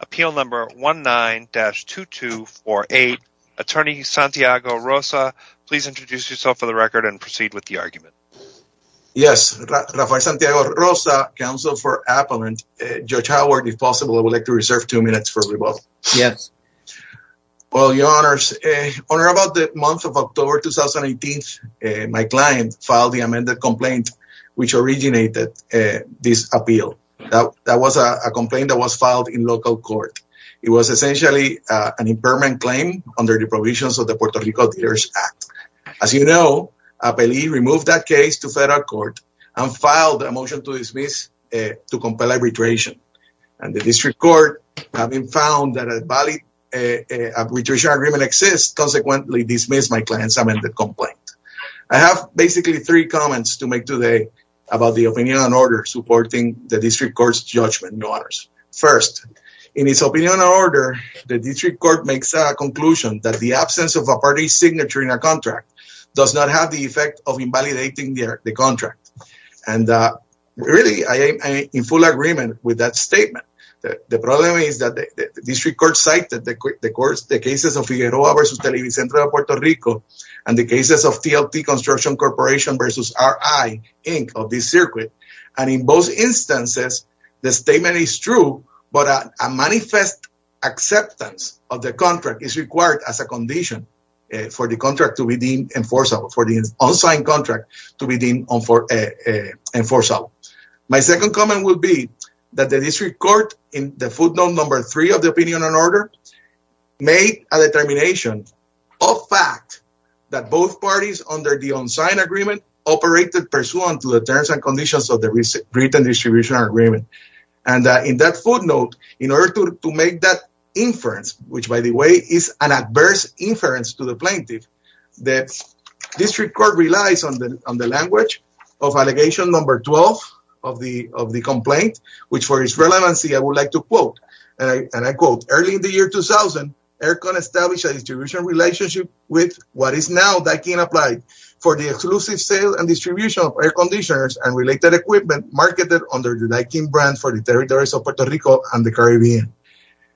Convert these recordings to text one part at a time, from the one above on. Appeal number 19-2248 Attorney Santiago Rosa, please introduce yourself for the record and proceed with the argument. Yes, Rafael Santiago Rosa, Counsel for Appellant, Judge Howard, if possible I would like to reserve two minutes for rebuttal. Yes. Well, your honors, on or about the month of October 2018, my client filed the amended complaint which originated this appeal. That was a complaint that was filed in local court. It was essentially an impairment claim under the provisions of the Puerto Rico Dealers Act. As you know, Appellee removed that case to federal court and filed a motion to dismiss to compel arbitration. And the district court having found that an arbitration agreement exists, consequently dismissed my client's amended complaint. I have basically three comments to make today about the opinion on order supporting the district court's judgment, your honors. First, in its opinion on order, the district court makes a conclusion that the absence of a party's signature in a contract does not have the effect of invalidating the contract. And really, I am in full agreement with that statement. The problem is that the district court cited the cases of Figueroa versus Televisión Centro de Puerto Rico and the cases of TLT Construction Corporation versus RI, Inc., of this circuit. And in both instances, the statement is true, but a manifest acceptance of the contract is required as a condition for the contract to be deemed enforceable, for the unsigned contract to be deemed enforceable. My second comment would be that the district court in the footnote number three of the opinion on order made a determination of fact that both parties under the unsigned agreement operated pursuant to the terms and conditions of the written distribution agreement. And in that footnote, in order to make that inference, which by the way is an adverse inference to the plaintiff, the district court relies on the language of allegation number 12 of the complaint, which for its relevancy I would like to quote, and I quote, early in the year 2000, Aircon established a distribution relationship with what is now Daikin Applied for the exclusive sale and distribution of air conditioners and related equipment marketed under the Daikin brand for the territories of Puerto Rico and the Caribbean.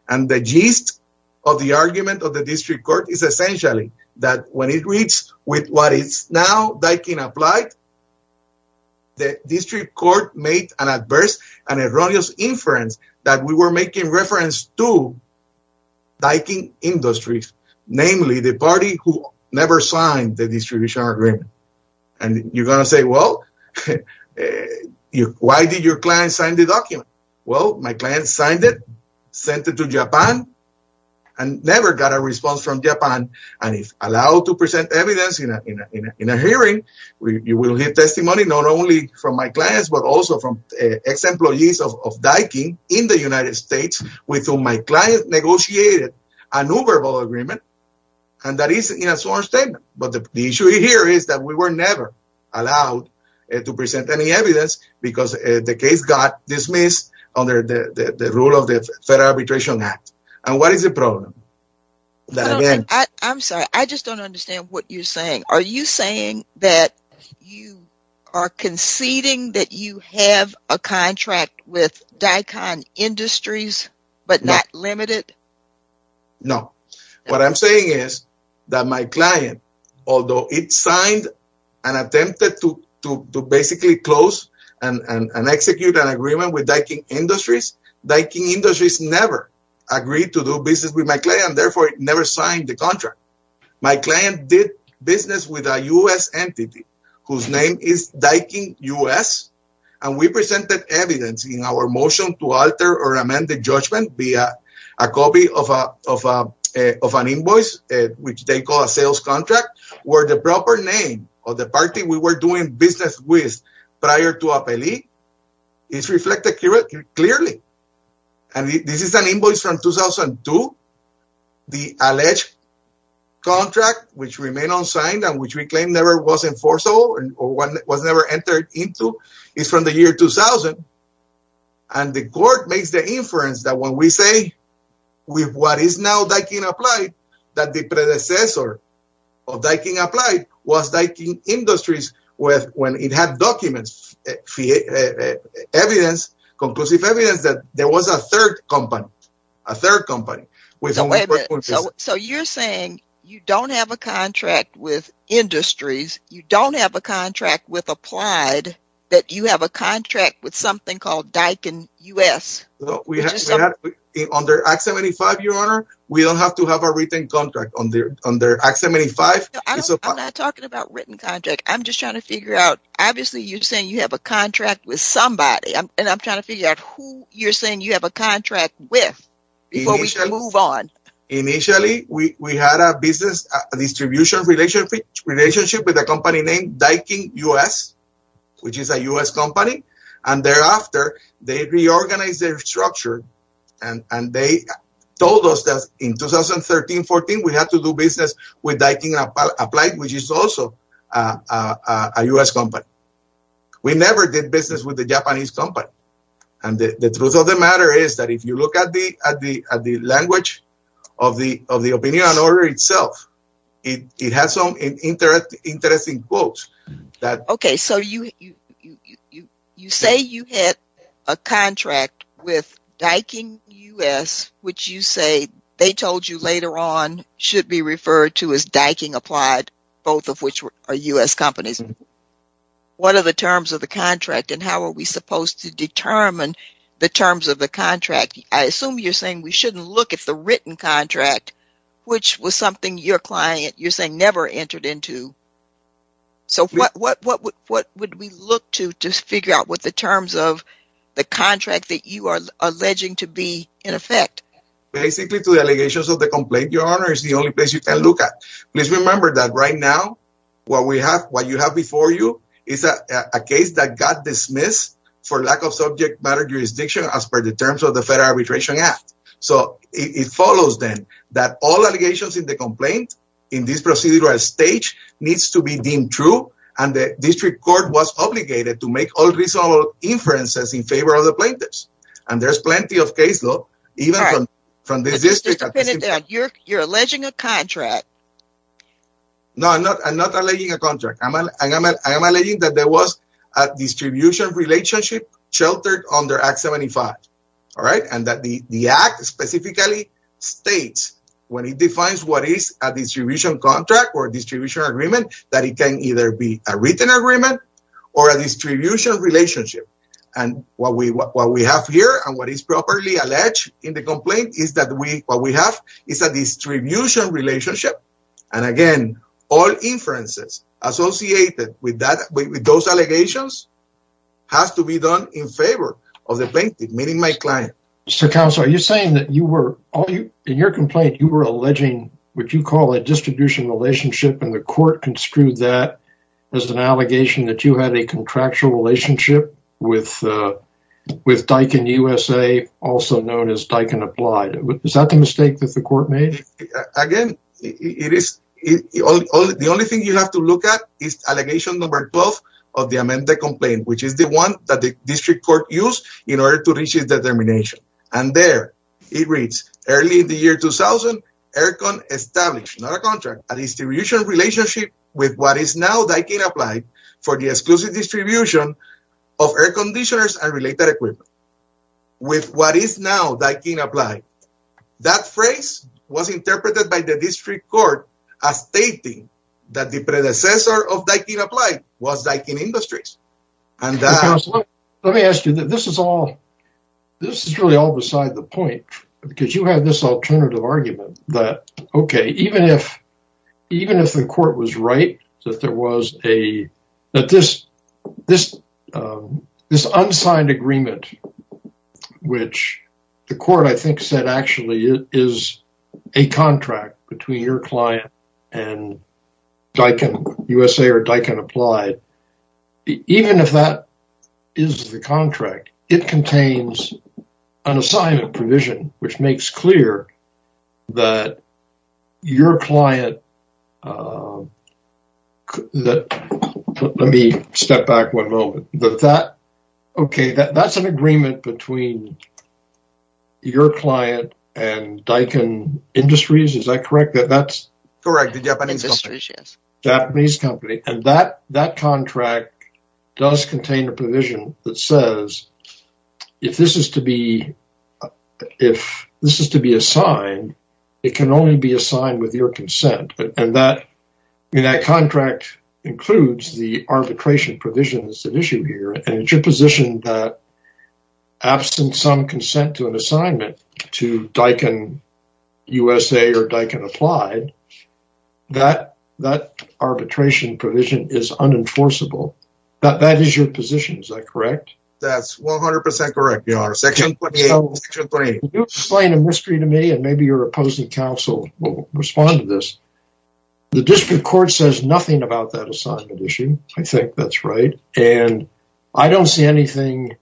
And the gist of the argument of the district court is essentially that when it reads with what is now Daikin Applied, the district court made an adverse and erroneous inference that we were making reference to Daikin Industries, namely the party who never signed the distribution agreement. And you're going to say, well, why did your client sign the document? Well, my client signed it, sent it to Japan and never got a response from Japan. And if allowed to present evidence in a hearing, you will hear testimony not only from my clients, but also from ex-employees of Daikin in the United States with whom my client negotiated an Uber vote agreement. And that is in a sworn statement. But the issue here is that we were never allowed to present any evidence because the case got dismissed under the rule of the Federal Arbitration Act. And what is the problem? I'm sorry, I just don't understand what you're saying. Are you saying that you are conceding that you have a contract with Daikin Industries, but not limited? No, what I'm saying is that my client, although it signed and attempted to basically close and execute an agreement with Daikin Industries, Daikin Industries never agreed to do business with my client and therefore never signed the contract. My client did business with a U.S. entity whose name is Daikin U.S., and we presented evidence in our motion to alter or amend the judgment via a copy of an invoice, which they call a sales contract, where the proper name of the party we were doing business with prior to appeal is reflected clearly. And this is an invoice from 2002, the alleged contract which remained unsigned and which we claim never was enforceable and was never entered into is from the year 2000. And the court makes the inference that when we say with what is now Daikin Applied, that the predecessor of Daikin Applied was Daikin Industries when it had documents, evidence, conclusive evidence that there was a third company, a third company. So you're saying you don't have a contract with Industries, you don't have a contract with Applied, that you have a contract with something called Daikin U.S.? No, under Act 75, Your Honor, we don't have to have a written contract under Act 75. I'm not talking about written contract. I'm just trying to figure out, obviously, you're saying you have a contract with somebody and I'm trying to figure out who you're saying you have a contract with before we move on. Initially, we had a business distribution relationship with a company named Daikin U.S., which is a U.S. company. And thereafter, they reorganized their structure and they told us that in 2013-14, we had to do business with Daikin Applied, which is also a U.S. company. We never did business with the Japanese company. And the truth of the matter is that if you look at the language of the opinion and order itself, it has some interesting quotes. OK, so you say you had a contract with Daikin U.S., which you say they told you later on should be referred to as Daikin Applied, both of which are U.S. companies. What are the terms of the contract and how are we supposed to determine the terms of the contract? I assume you're saying we shouldn't look at the written contract, which was something your client, you're saying, never entered into. So what would we look to to figure out what the terms of the contract that you are alleging to be in effect? Basically, to the allegations of the complaint, Your Honor, is the only place you can look at. Please remember that right now, what we have, what you have before you is a case that got dismissed for lack of subject matter jurisdiction as per the terms of the Federal Arbitration Act. So it follows then that all allegations in the complaint in this procedural stage needs to be deemed true and the district court was obligated to make all reasonable inferences in favor of the plaintiffs. And there's plenty of case law, even from this district. You're alleging a contract. No, I'm not. I'm not alleging a contract. I am alleging that there was a distribution relationship sheltered under Act 75. All right. And that the act specifically states when it defines what is a distribution contract or distribution agreement, that it can either be a written agreement or a distribution relationship. And what we what we have here and what is properly alleged in the complaint is that we what we have is a distribution relationship. And again, all inferences associated with that with those allegations has to be done in favor of the plaintiff, meaning my client. So, Counselor, are you saying that you were in your complaint, you were alleging what you call a distribution relationship, and the court construed that as an allegation that you had a contractual relationship with with Daikin USA, also known as Daikin Applied. Is that the mistake that the court made? Again, it is the only thing you have to look at is allegation number 12 of the amended complaint, which is the one that the district court used in order to reach its determination. And there it reads early in the year 2000, ERCON established, not a contract, a distribution relationship with what is now Daikin Applied for the exclusive distribution of air conditioners and related equipment with what is now Daikin Applied. That phrase was interpreted by the district court as stating that the predecessor of Daikin Applied was Daikin Industries. And let me ask you, this is all this is really all beside the point, because you had this alternative argument that, OK, even if even if the court was right, that there was a that this this this unsigned agreement, which the court, I think, said actually is a contract between your client and Daikin USA or Daikin Applied, even if that is the contract, it that your client that let me step back one moment, that that OK, that that's an agreement between your client and Daikin Industries. Is that correct? That that's correct. The Japanese company and that that contract does contain a provision that says if this is to be if this is to be assigned, it can only be assigned with your consent and that in that contract includes the arbitration provisions at issue here. And it's your position that absent some consent to an assignment to Daikin USA or Daikin Applied, that that arbitration provision is unenforceable, that that is your position. Is that correct? That's 100 percent correct, Your Honor. Section 28, Section 3. Can you explain a mystery to me and maybe your opposing counsel will respond to this. The district court says nothing about that assignment issue. I think that's right. And I don't see anything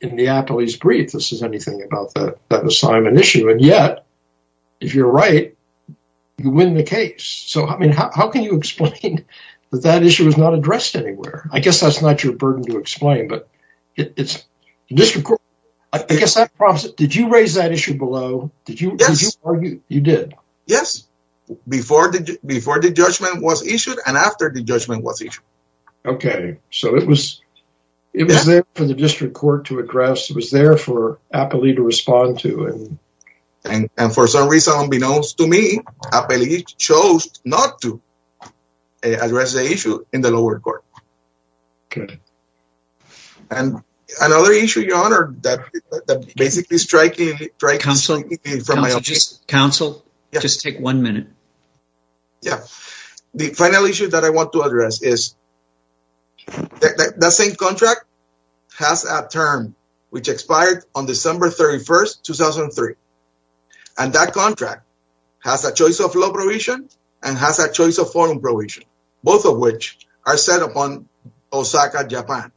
in Neapoli's brief that says anything about that assignment issue. And yet, if you're right, you win the case. So, I mean, how can you explain that that issue is not addressed anywhere? I guess that's not your burden to explain. But it's just because I guess I promise it. Did you raise that issue below? Did you argue? You did. Yes, before the before the judgment was issued and after the judgment was issued. OK, so it was it was there for the district court to address. It was there for Apolli to respond to. And for some reason, unbeknownst to me, Apolli chose not to address the issue in the lower court. OK. And another issue, your honor, that basically striking from my counsel. Just take one minute. Yeah. The final issue that I want to address is that the same contract has a term which expired on December 31st, 2003. And that contract has a choice of law provision and has a choice of foreign provision, both of which are set upon Osaka, Japan.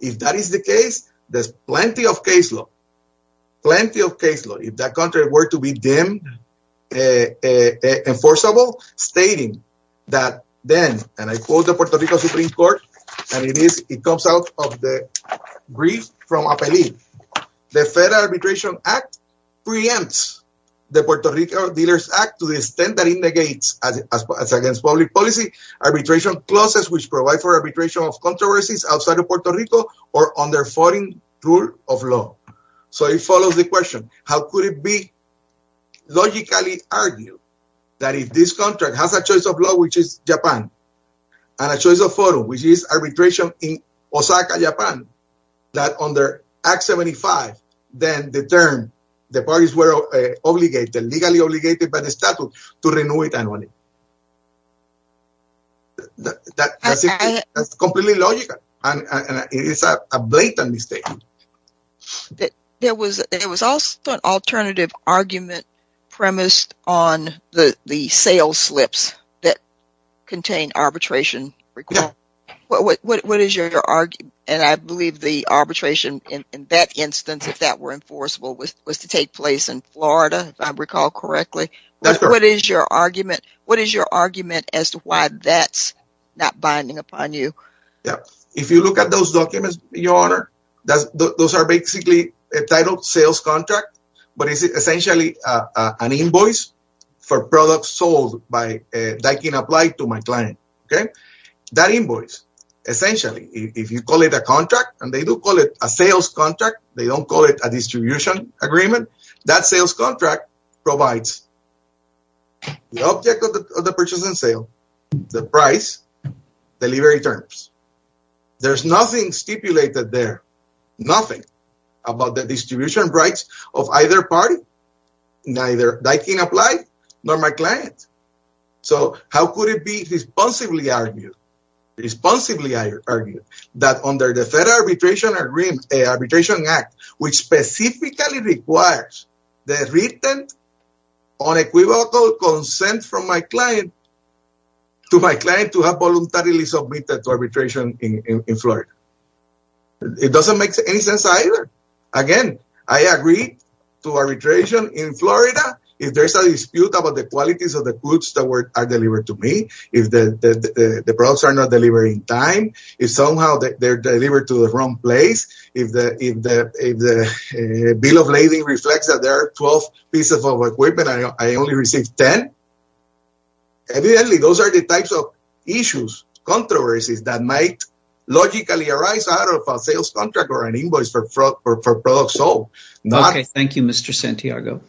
If that is the case, there's plenty of case law, plenty of case law. If that country were to be deemed enforceable, stating that then and I quote the Puerto Rico Supreme Court, and it is it comes out of the brief from Apolli, the Federal Arbitration Act preempts the Puerto Rico Dealers Act to the extent that it negates as against public policy, arbitration clauses which provide for arbitration of controversies outside of Puerto Rico or under foreign rule of law. So it follows the question, how could it be logically argued that if this country has a choice of law, which is Japan and a choice of photo, which is arbitration in Osaka, Japan, that under Act 75, then the term the parties were obligated, legally obligated by the statute to renew it annually. That is completely logical and it is a blatant mistake. There was also an alternative argument premised on the sales slips that contain arbitration. What is your argument? And I believe the arbitration in that instance, if that were enforceable, was to take place in Florida, if I recall correctly. What is your argument? What is your argument as to why that's not binding upon you? Yeah, if you look at those documents, your honor, those are basically a title sales contract, but it's essentially an invoice for products sold by that can apply to my client. Okay, that invoice, essentially, if you call it a contract and they do call it a sales contract, they don't call it a distribution agreement. That sales contract provides the object of the purchase and sale, the price, delivery terms. There's nothing stipulated there, nothing about the distribution rights of either party, neither that can apply nor my client. So how could it be responsibly argued, responsibly argued, that under the Federal Arbitration Act, which specifically requires the written unequivocal consent from my client, to my client to have voluntarily submitted to arbitration in Florida? It doesn't make any sense either. Again, I agree to arbitration in Florida. If there's a dispute about the qualities of the goods that are delivered to me, if the products are not delivered in time, if somehow they're delivered to the wrong place, if the bill of lading reflects that there are 12 pieces of equipment and I only received 10, evidently those are the types of issues, controversies, that might logically arise out of a sales contract or an invoice for products sold. Okay, thank you, Mr. Santiago.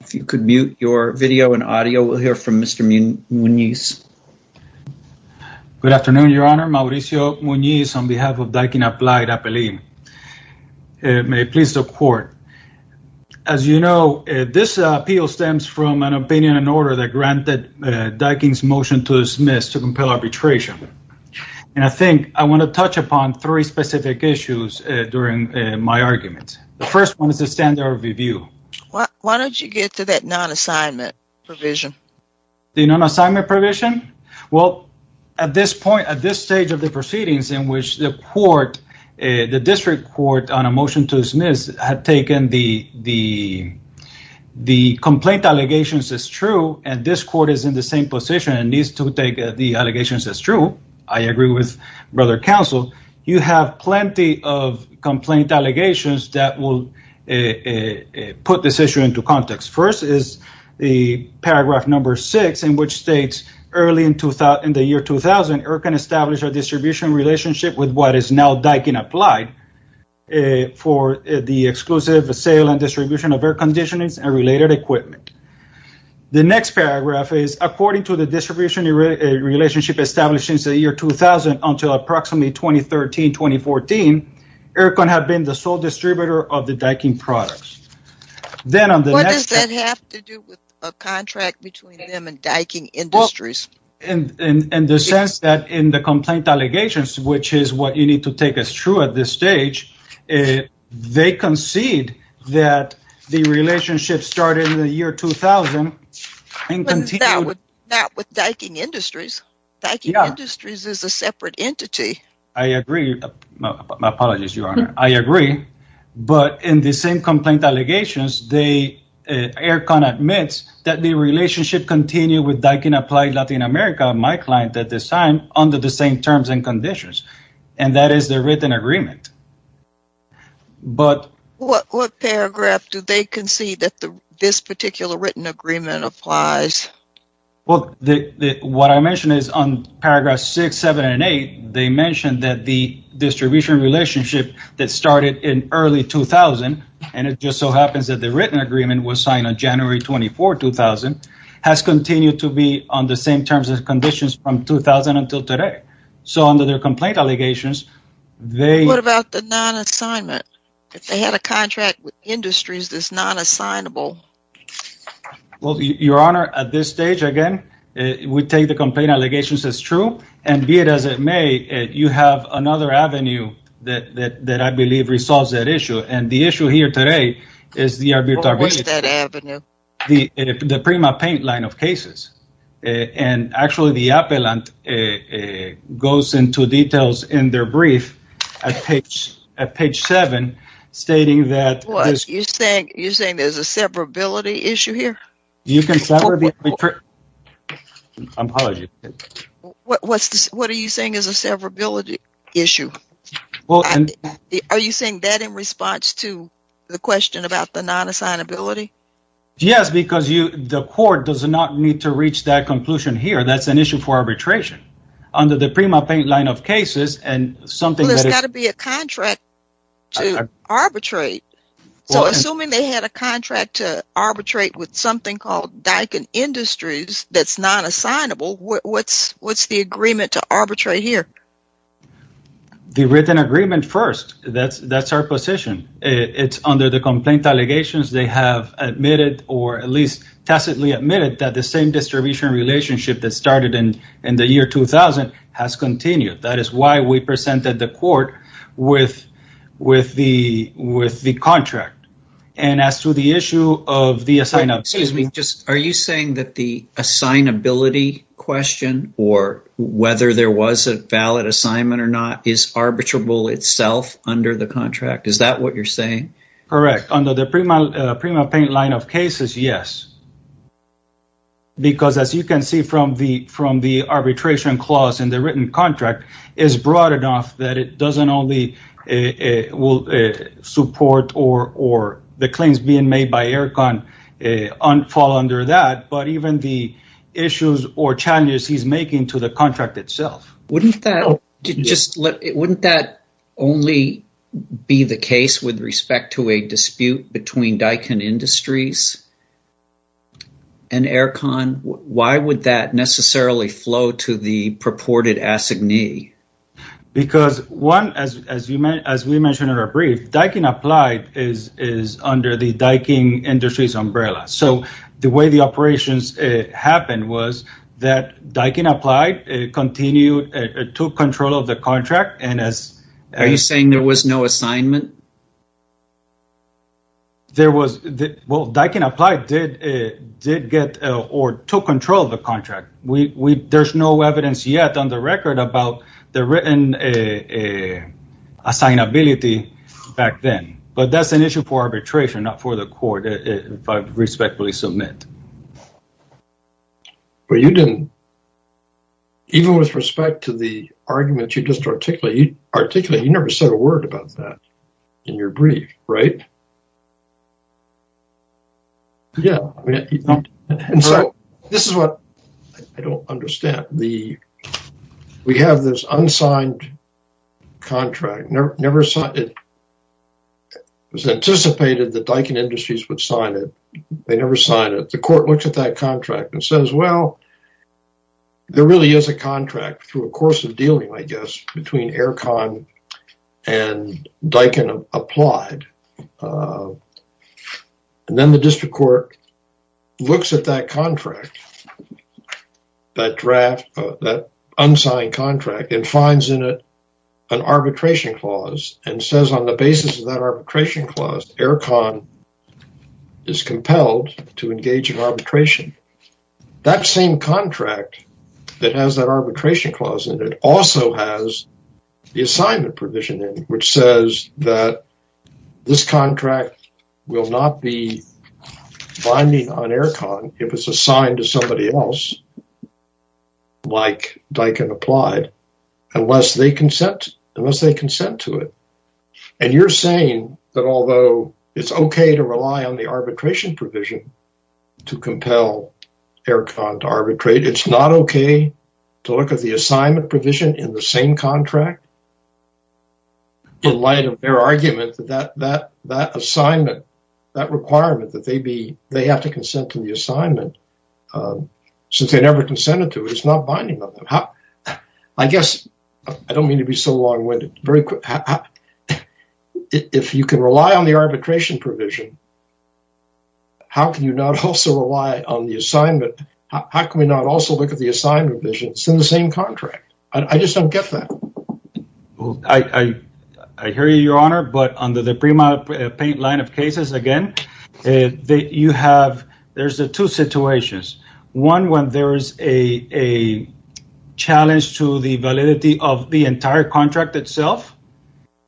If you could mute your video and audio, we'll hear from Mr. Muñiz. Good afternoon, Your Honor. Mauricio Muñiz on behalf of Daikin Applied Appellate. May it please the Court. As you know, this appeal stems from an opinion and order that granted Daikin's motion to dismiss to compel arbitration. And I think I want to touch upon three specific issues during my argument. The first one is the standard of review. Why don't you get to that non-assignment provision? The non-assignment provision? Well, at this point, at this stage of the proceedings in which the court, the district court on a motion to dismiss had taken the complaint allegations as true, and this court is in the same position and needs to take the allegations as true. I agree with Brother Counsel. You have plenty of complaint allegations that will put this issue into context. First is the paragraph number six, in which states, early in the year 2000, EIRCON established a distribution relationship with what is now Daikin Applied for the exclusive sale and distribution of air conditioners and related equipment. The next paragraph is, according to the distribution relationship established since the year 2000 until approximately 2013, 2014, EIRCON had been the sole distributor of the Daikin products. What does that have to do with a contract between them and Daikin Industries? In the sense that in the complaint allegations, which is what you need to take as true at this stage, they concede that the relationship started in the year 2000 and continued... Not with Daikin Industries. Daikin Industries is a separate entity. I agree. My apologies, Your Honor. I agree. But in the same complaint allegations, EIRCON admits that the relationship continued with Daikin Applied Latin America, my client at this time, under the same terms and conditions. And that is the written agreement. But... What paragraph do they concede that this particular written agreement applies? What I mentioned is on paragraphs 6, 7, and 8, they mentioned that the distribution relationship that started in early 2000, and it just so happens that the written agreement was signed on January 24, 2000, has continued to be on the same terms and conditions from 2000 until today. So under their complaint allegations, they... What about the non-assignment? If they had a contract with industries that's non-assignable? Well, Your Honor, at this stage, again, we take the complaint allegations as true. And be it as it may, you have another avenue that I believe resolves that issue. And the issue here today is the arbitrariness... What is that avenue? The PrimaPaint line of cases. And actually, the appellant goes into details in their brief at page 7, stating that... You're saying there's a severability issue here? You can sever... Apologies. What are you saying is a severability issue? Are you saying that in response to the question about the non-assignability? Yes, because the court does not need to reach that conclusion here. That's an issue for arbitration. Under the PrimaPaint line of cases, and something that is... So, assuming they had a contract to arbitrate with something called Daikin Industries that's non-assignable, what's the agreement to arbitrate here? The written agreement first. That's our position. It's under the complaint allegations they have admitted, or at least tacitly admitted, that the same distribution relationship that started in the year 2000 has continued. That is why we presented the court with the contract. And as to the issue of the assignment... Excuse me. Are you saying that the assignability question, or whether there was a valid assignment or not, is arbitrable itself under the contract? Is that what you're saying? Correct. Under the PrimaPaint line of cases, yes. Because as you can see from the arbitration clause in the written contract, it's broad enough that it doesn't only support or the claims being made by ERCON fall under that, but even the issues or challenges he's making to the contract itself. Wouldn't that only be the case with respect to a dispute between Daikin Industries and ERCON? Why would that necessarily flow to the purported assignee? Because, as we mentioned in our brief, Daikin Applied is under the Daikin Industries umbrella. So the way the operations happened was that Daikin Applied continued, took control of the contract. Are you saying there was no assignment? Well, Daikin Applied did get or took control of the contract. There's no evidence yet on the record about the written assignability back then. But that's an issue for arbitration, not for the court, if I respectfully submit. But you didn't. Even with respect to the argument you just articulated, you never said a word about that in your brief, right? Yeah. And so this is what I don't understand. We have this unsigned contract. It was anticipated that Daikin Industries would sign it. They never signed it. The court looks at that contract and says, well, there really is a contract through a course of dealing, I guess, between ERCON and Daikin Applied. And then the district court looks at that contract, that draft, that unsigned contract, and finds in it an arbitration clause and says, on the basis of that arbitration clause, ERCON is compelled to engage in arbitration. That same contract that has that arbitration clause in it also has the assignment provision in it, which says that this contract will not be binding on ERCON if it's assigned to somebody else, like Daikin Applied, unless they consent to it. And you're saying that although it's okay to rely on the arbitration provision to compel ERCON to arbitrate, it's not okay to look at the assignment provision in the same contract? In light of their argument that that assignment, that requirement, that they have to consent to the assignment, since they never consented to it, it's not binding on them. I guess I don't mean to be so long-winded. If you can rely on the arbitration provision, how can you not also rely on the assignment? How can we not also look at the assignment provision in the same contract? I just don't get that. I hear you, Your Honor, but under the PRIMA Paint line of cases, again, you have, there's two situations. One, when there's a challenge to the validity of the entire contract itself,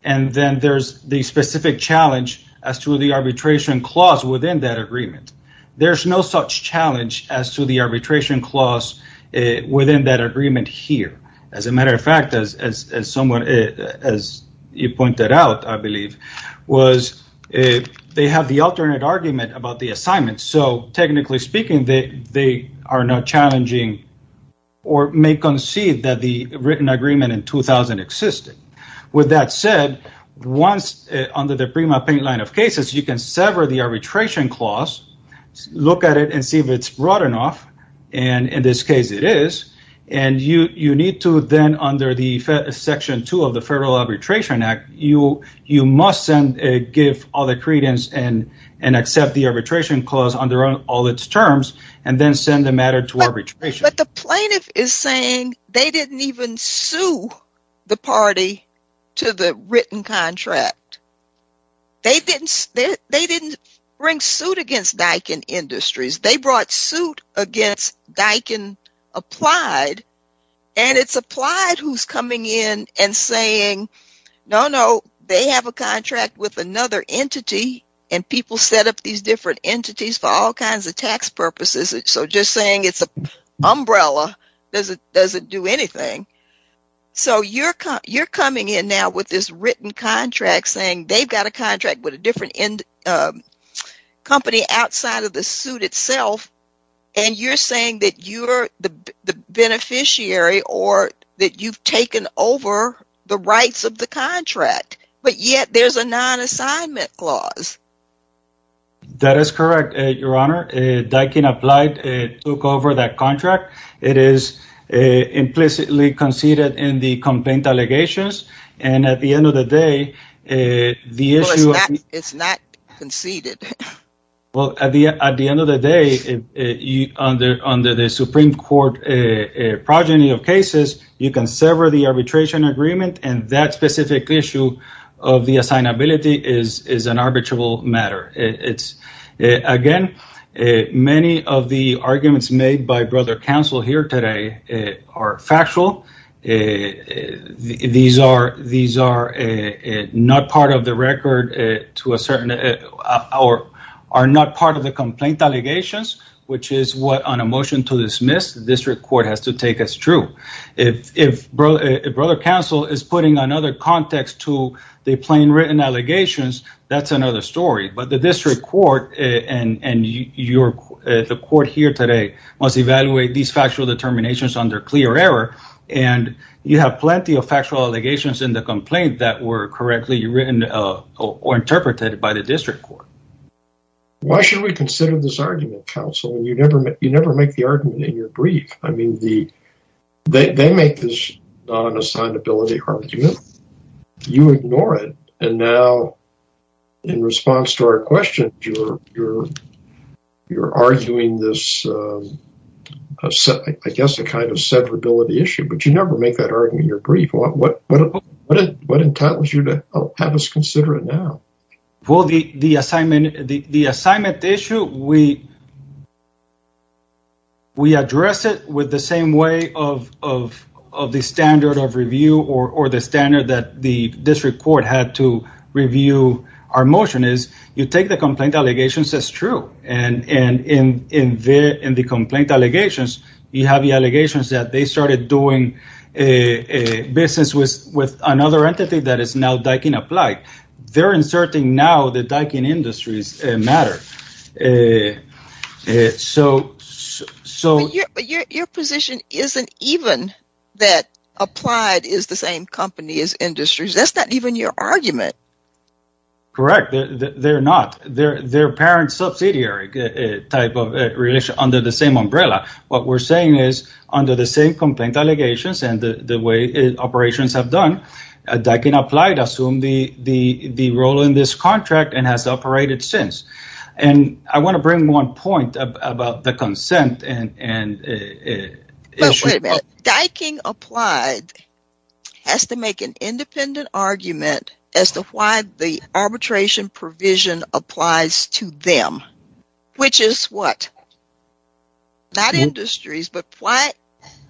and then there's the specific challenge as to the arbitration clause within that agreement. There's no such challenge as to the arbitration clause within that agreement here. As a matter of fact, as someone, as you pointed out, I believe, was they have the alternate argument about the assignment. So technically speaking, they are not challenging or may concede that the written agreement in 2000 existed. With that said, once under the PRIMA Paint line of cases, you can sever the arbitration clause, look at it and see if it's broad enough, and in this case it is, and you need to then under the Section 2 of the Federal Arbitration Act, you must give all the credence and accept the arbitration clause under all its terms, and then send the matter to arbitration. But the plaintiff is saying they didn't even sue the party to the written contract. They didn't bring suit against Daikin Industries. They brought suit against Daikin Applied, and it's Applied who's coming in and saying, no, no, they have a contract with another entity, and people set up these different entities for all kinds of tax purposes. So just saying it's an umbrella doesn't do anything. So you're coming in now with this written contract saying they've got a contract with a different company outside of the suit itself, and you're saying that you're the beneficiary or that you've taken over the rights of the contract, but yet there's a non-assignment clause. That is correct, Your Honor. Daikin Applied took over that contract. It is implicitly conceded in the complaint allegations, and at the end of the day, the issue of the… Well, it's not conceded. Well, at the end of the day, under the Supreme Court progeny of cases, you can sever the arbitration agreement, and that specific issue of the assignability is an arbitrable matter. Again, many of the arguments made by Brother Counsel here today are factual. These are not part of the record to a certain… are not part of the complaint allegations, which is what on a motion to dismiss, the district court has to take as true. If Brother Counsel is putting another context to the plain written allegations, that's another story, but the district court and the court here today must evaluate these factual determinations under clear error, and you have plenty of factual allegations in the complaint that were correctly written or interpreted by the district court. Why should we consider this argument, Counsel? You never make the argument in your brief. I mean, they make this not an assignability argument. You ignore it, and now, in response to our question, you're arguing this, I guess, a kind of severability issue, but you never make that argument in your brief. What entitles you to have us consider it now? Well, the assignment issue, we address it with the same way of the standard of review or the standard that the district court had to review our motion is you take the complaint allegations as true, and in the complaint allegations, you have the allegations that they started doing a business with another entity that is now Daikin Applied. They're inserting now the Daikin Industries matter. But your position isn't even that Applied is the same company as Industries. That's not even your argument. Correct. They're not. They're parent subsidiary type of relation under the same umbrella. What we're saying is under the same complaint allegations and the way operations have done, Daikin Applied assumed the role in this contract and has operated since. And I want to bring one point about the consent and issue. Wait a minute. Daikin Applied has to make an independent argument as to why the arbitration provision applies to them, which is what? Not Industries, but why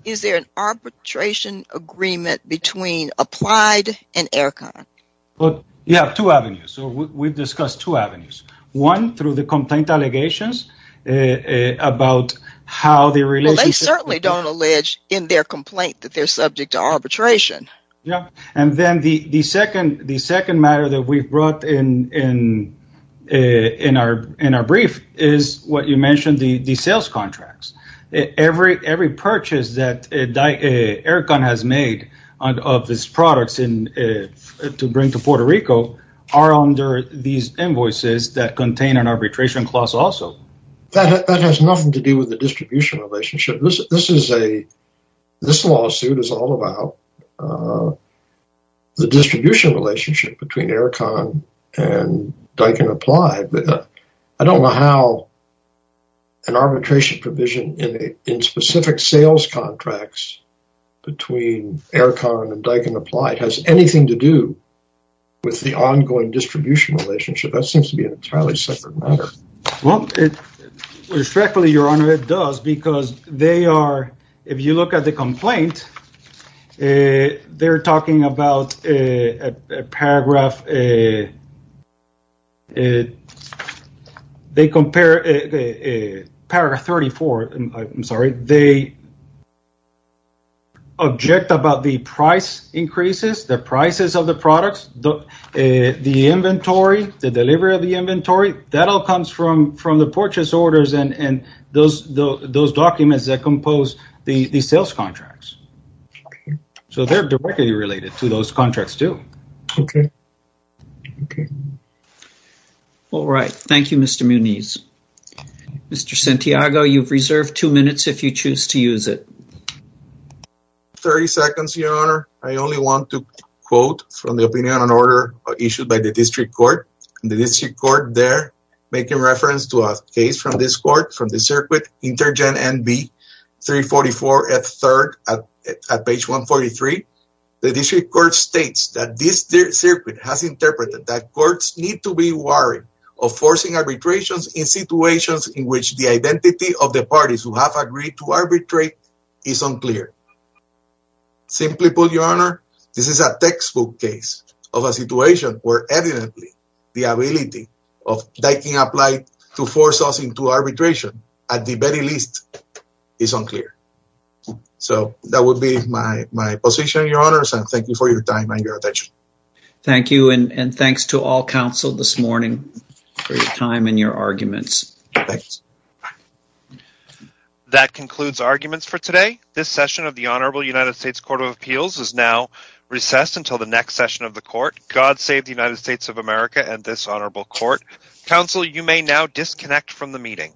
is there an arbitration agreement between Applied and Aircon? Well, you have two avenues. So we've discussed two avenues, one through the complaint allegations about how they relate. They certainly don't allege in their complaint that they're subject to arbitration. And then the second matter that we've brought in our brief is what you mentioned, the sales contracts. Every purchase that Aircon has made of its products to bring to Puerto Rico are under these invoices that contain an arbitration clause also. That has nothing to do with the distribution relationship. This lawsuit is all about the distribution relationship between Aircon and Daikin Applied. I don't know how an arbitration provision in specific sales contracts between Aircon and Daikin Applied has anything to do with the ongoing distribution relationship. That seems to be an entirely separate matter. Well, respectfully, Your Honor, it does, because they are, if you look at the complaint, they're talking about a paragraph 34. I'm sorry, they object about the price increases, the prices of the products, the inventory, the delivery of the inventory. That all comes from the purchase orders and those documents that compose the sales contracts. So they're directly related to those contracts too. Okay. All right. Thank you, Mr. Muniz. Mr. Santiago, you've reserved two minutes if you choose to use it. 30 seconds, Your Honor. I only want to quote from the opinion on order issued by the district court. The district court there, making reference to a case from this court, from the circuit Intergen NB 344F3 at page 143. The district court states that this circuit has interpreted that courts need to be worried of forcing arbitrations in situations in which the identity of the parties who have agreed to arbitrate is unclear. Simply put, Your Honor, this is a textbook case of a situation where evidently the ability of taking a plight to force us into arbitration at the very least is unclear. So that would be my position, Your Honors, and thank you for your time and your attention. Thank you, and thanks to all counsel this morning for your time and your arguments. Thanks. That concludes arguments for today. This session of the Honorable United States Court of Appeals is now recessed until the next session of the court. God save the United States of America and this honorable court. Counsel, you may now disconnect from the meeting.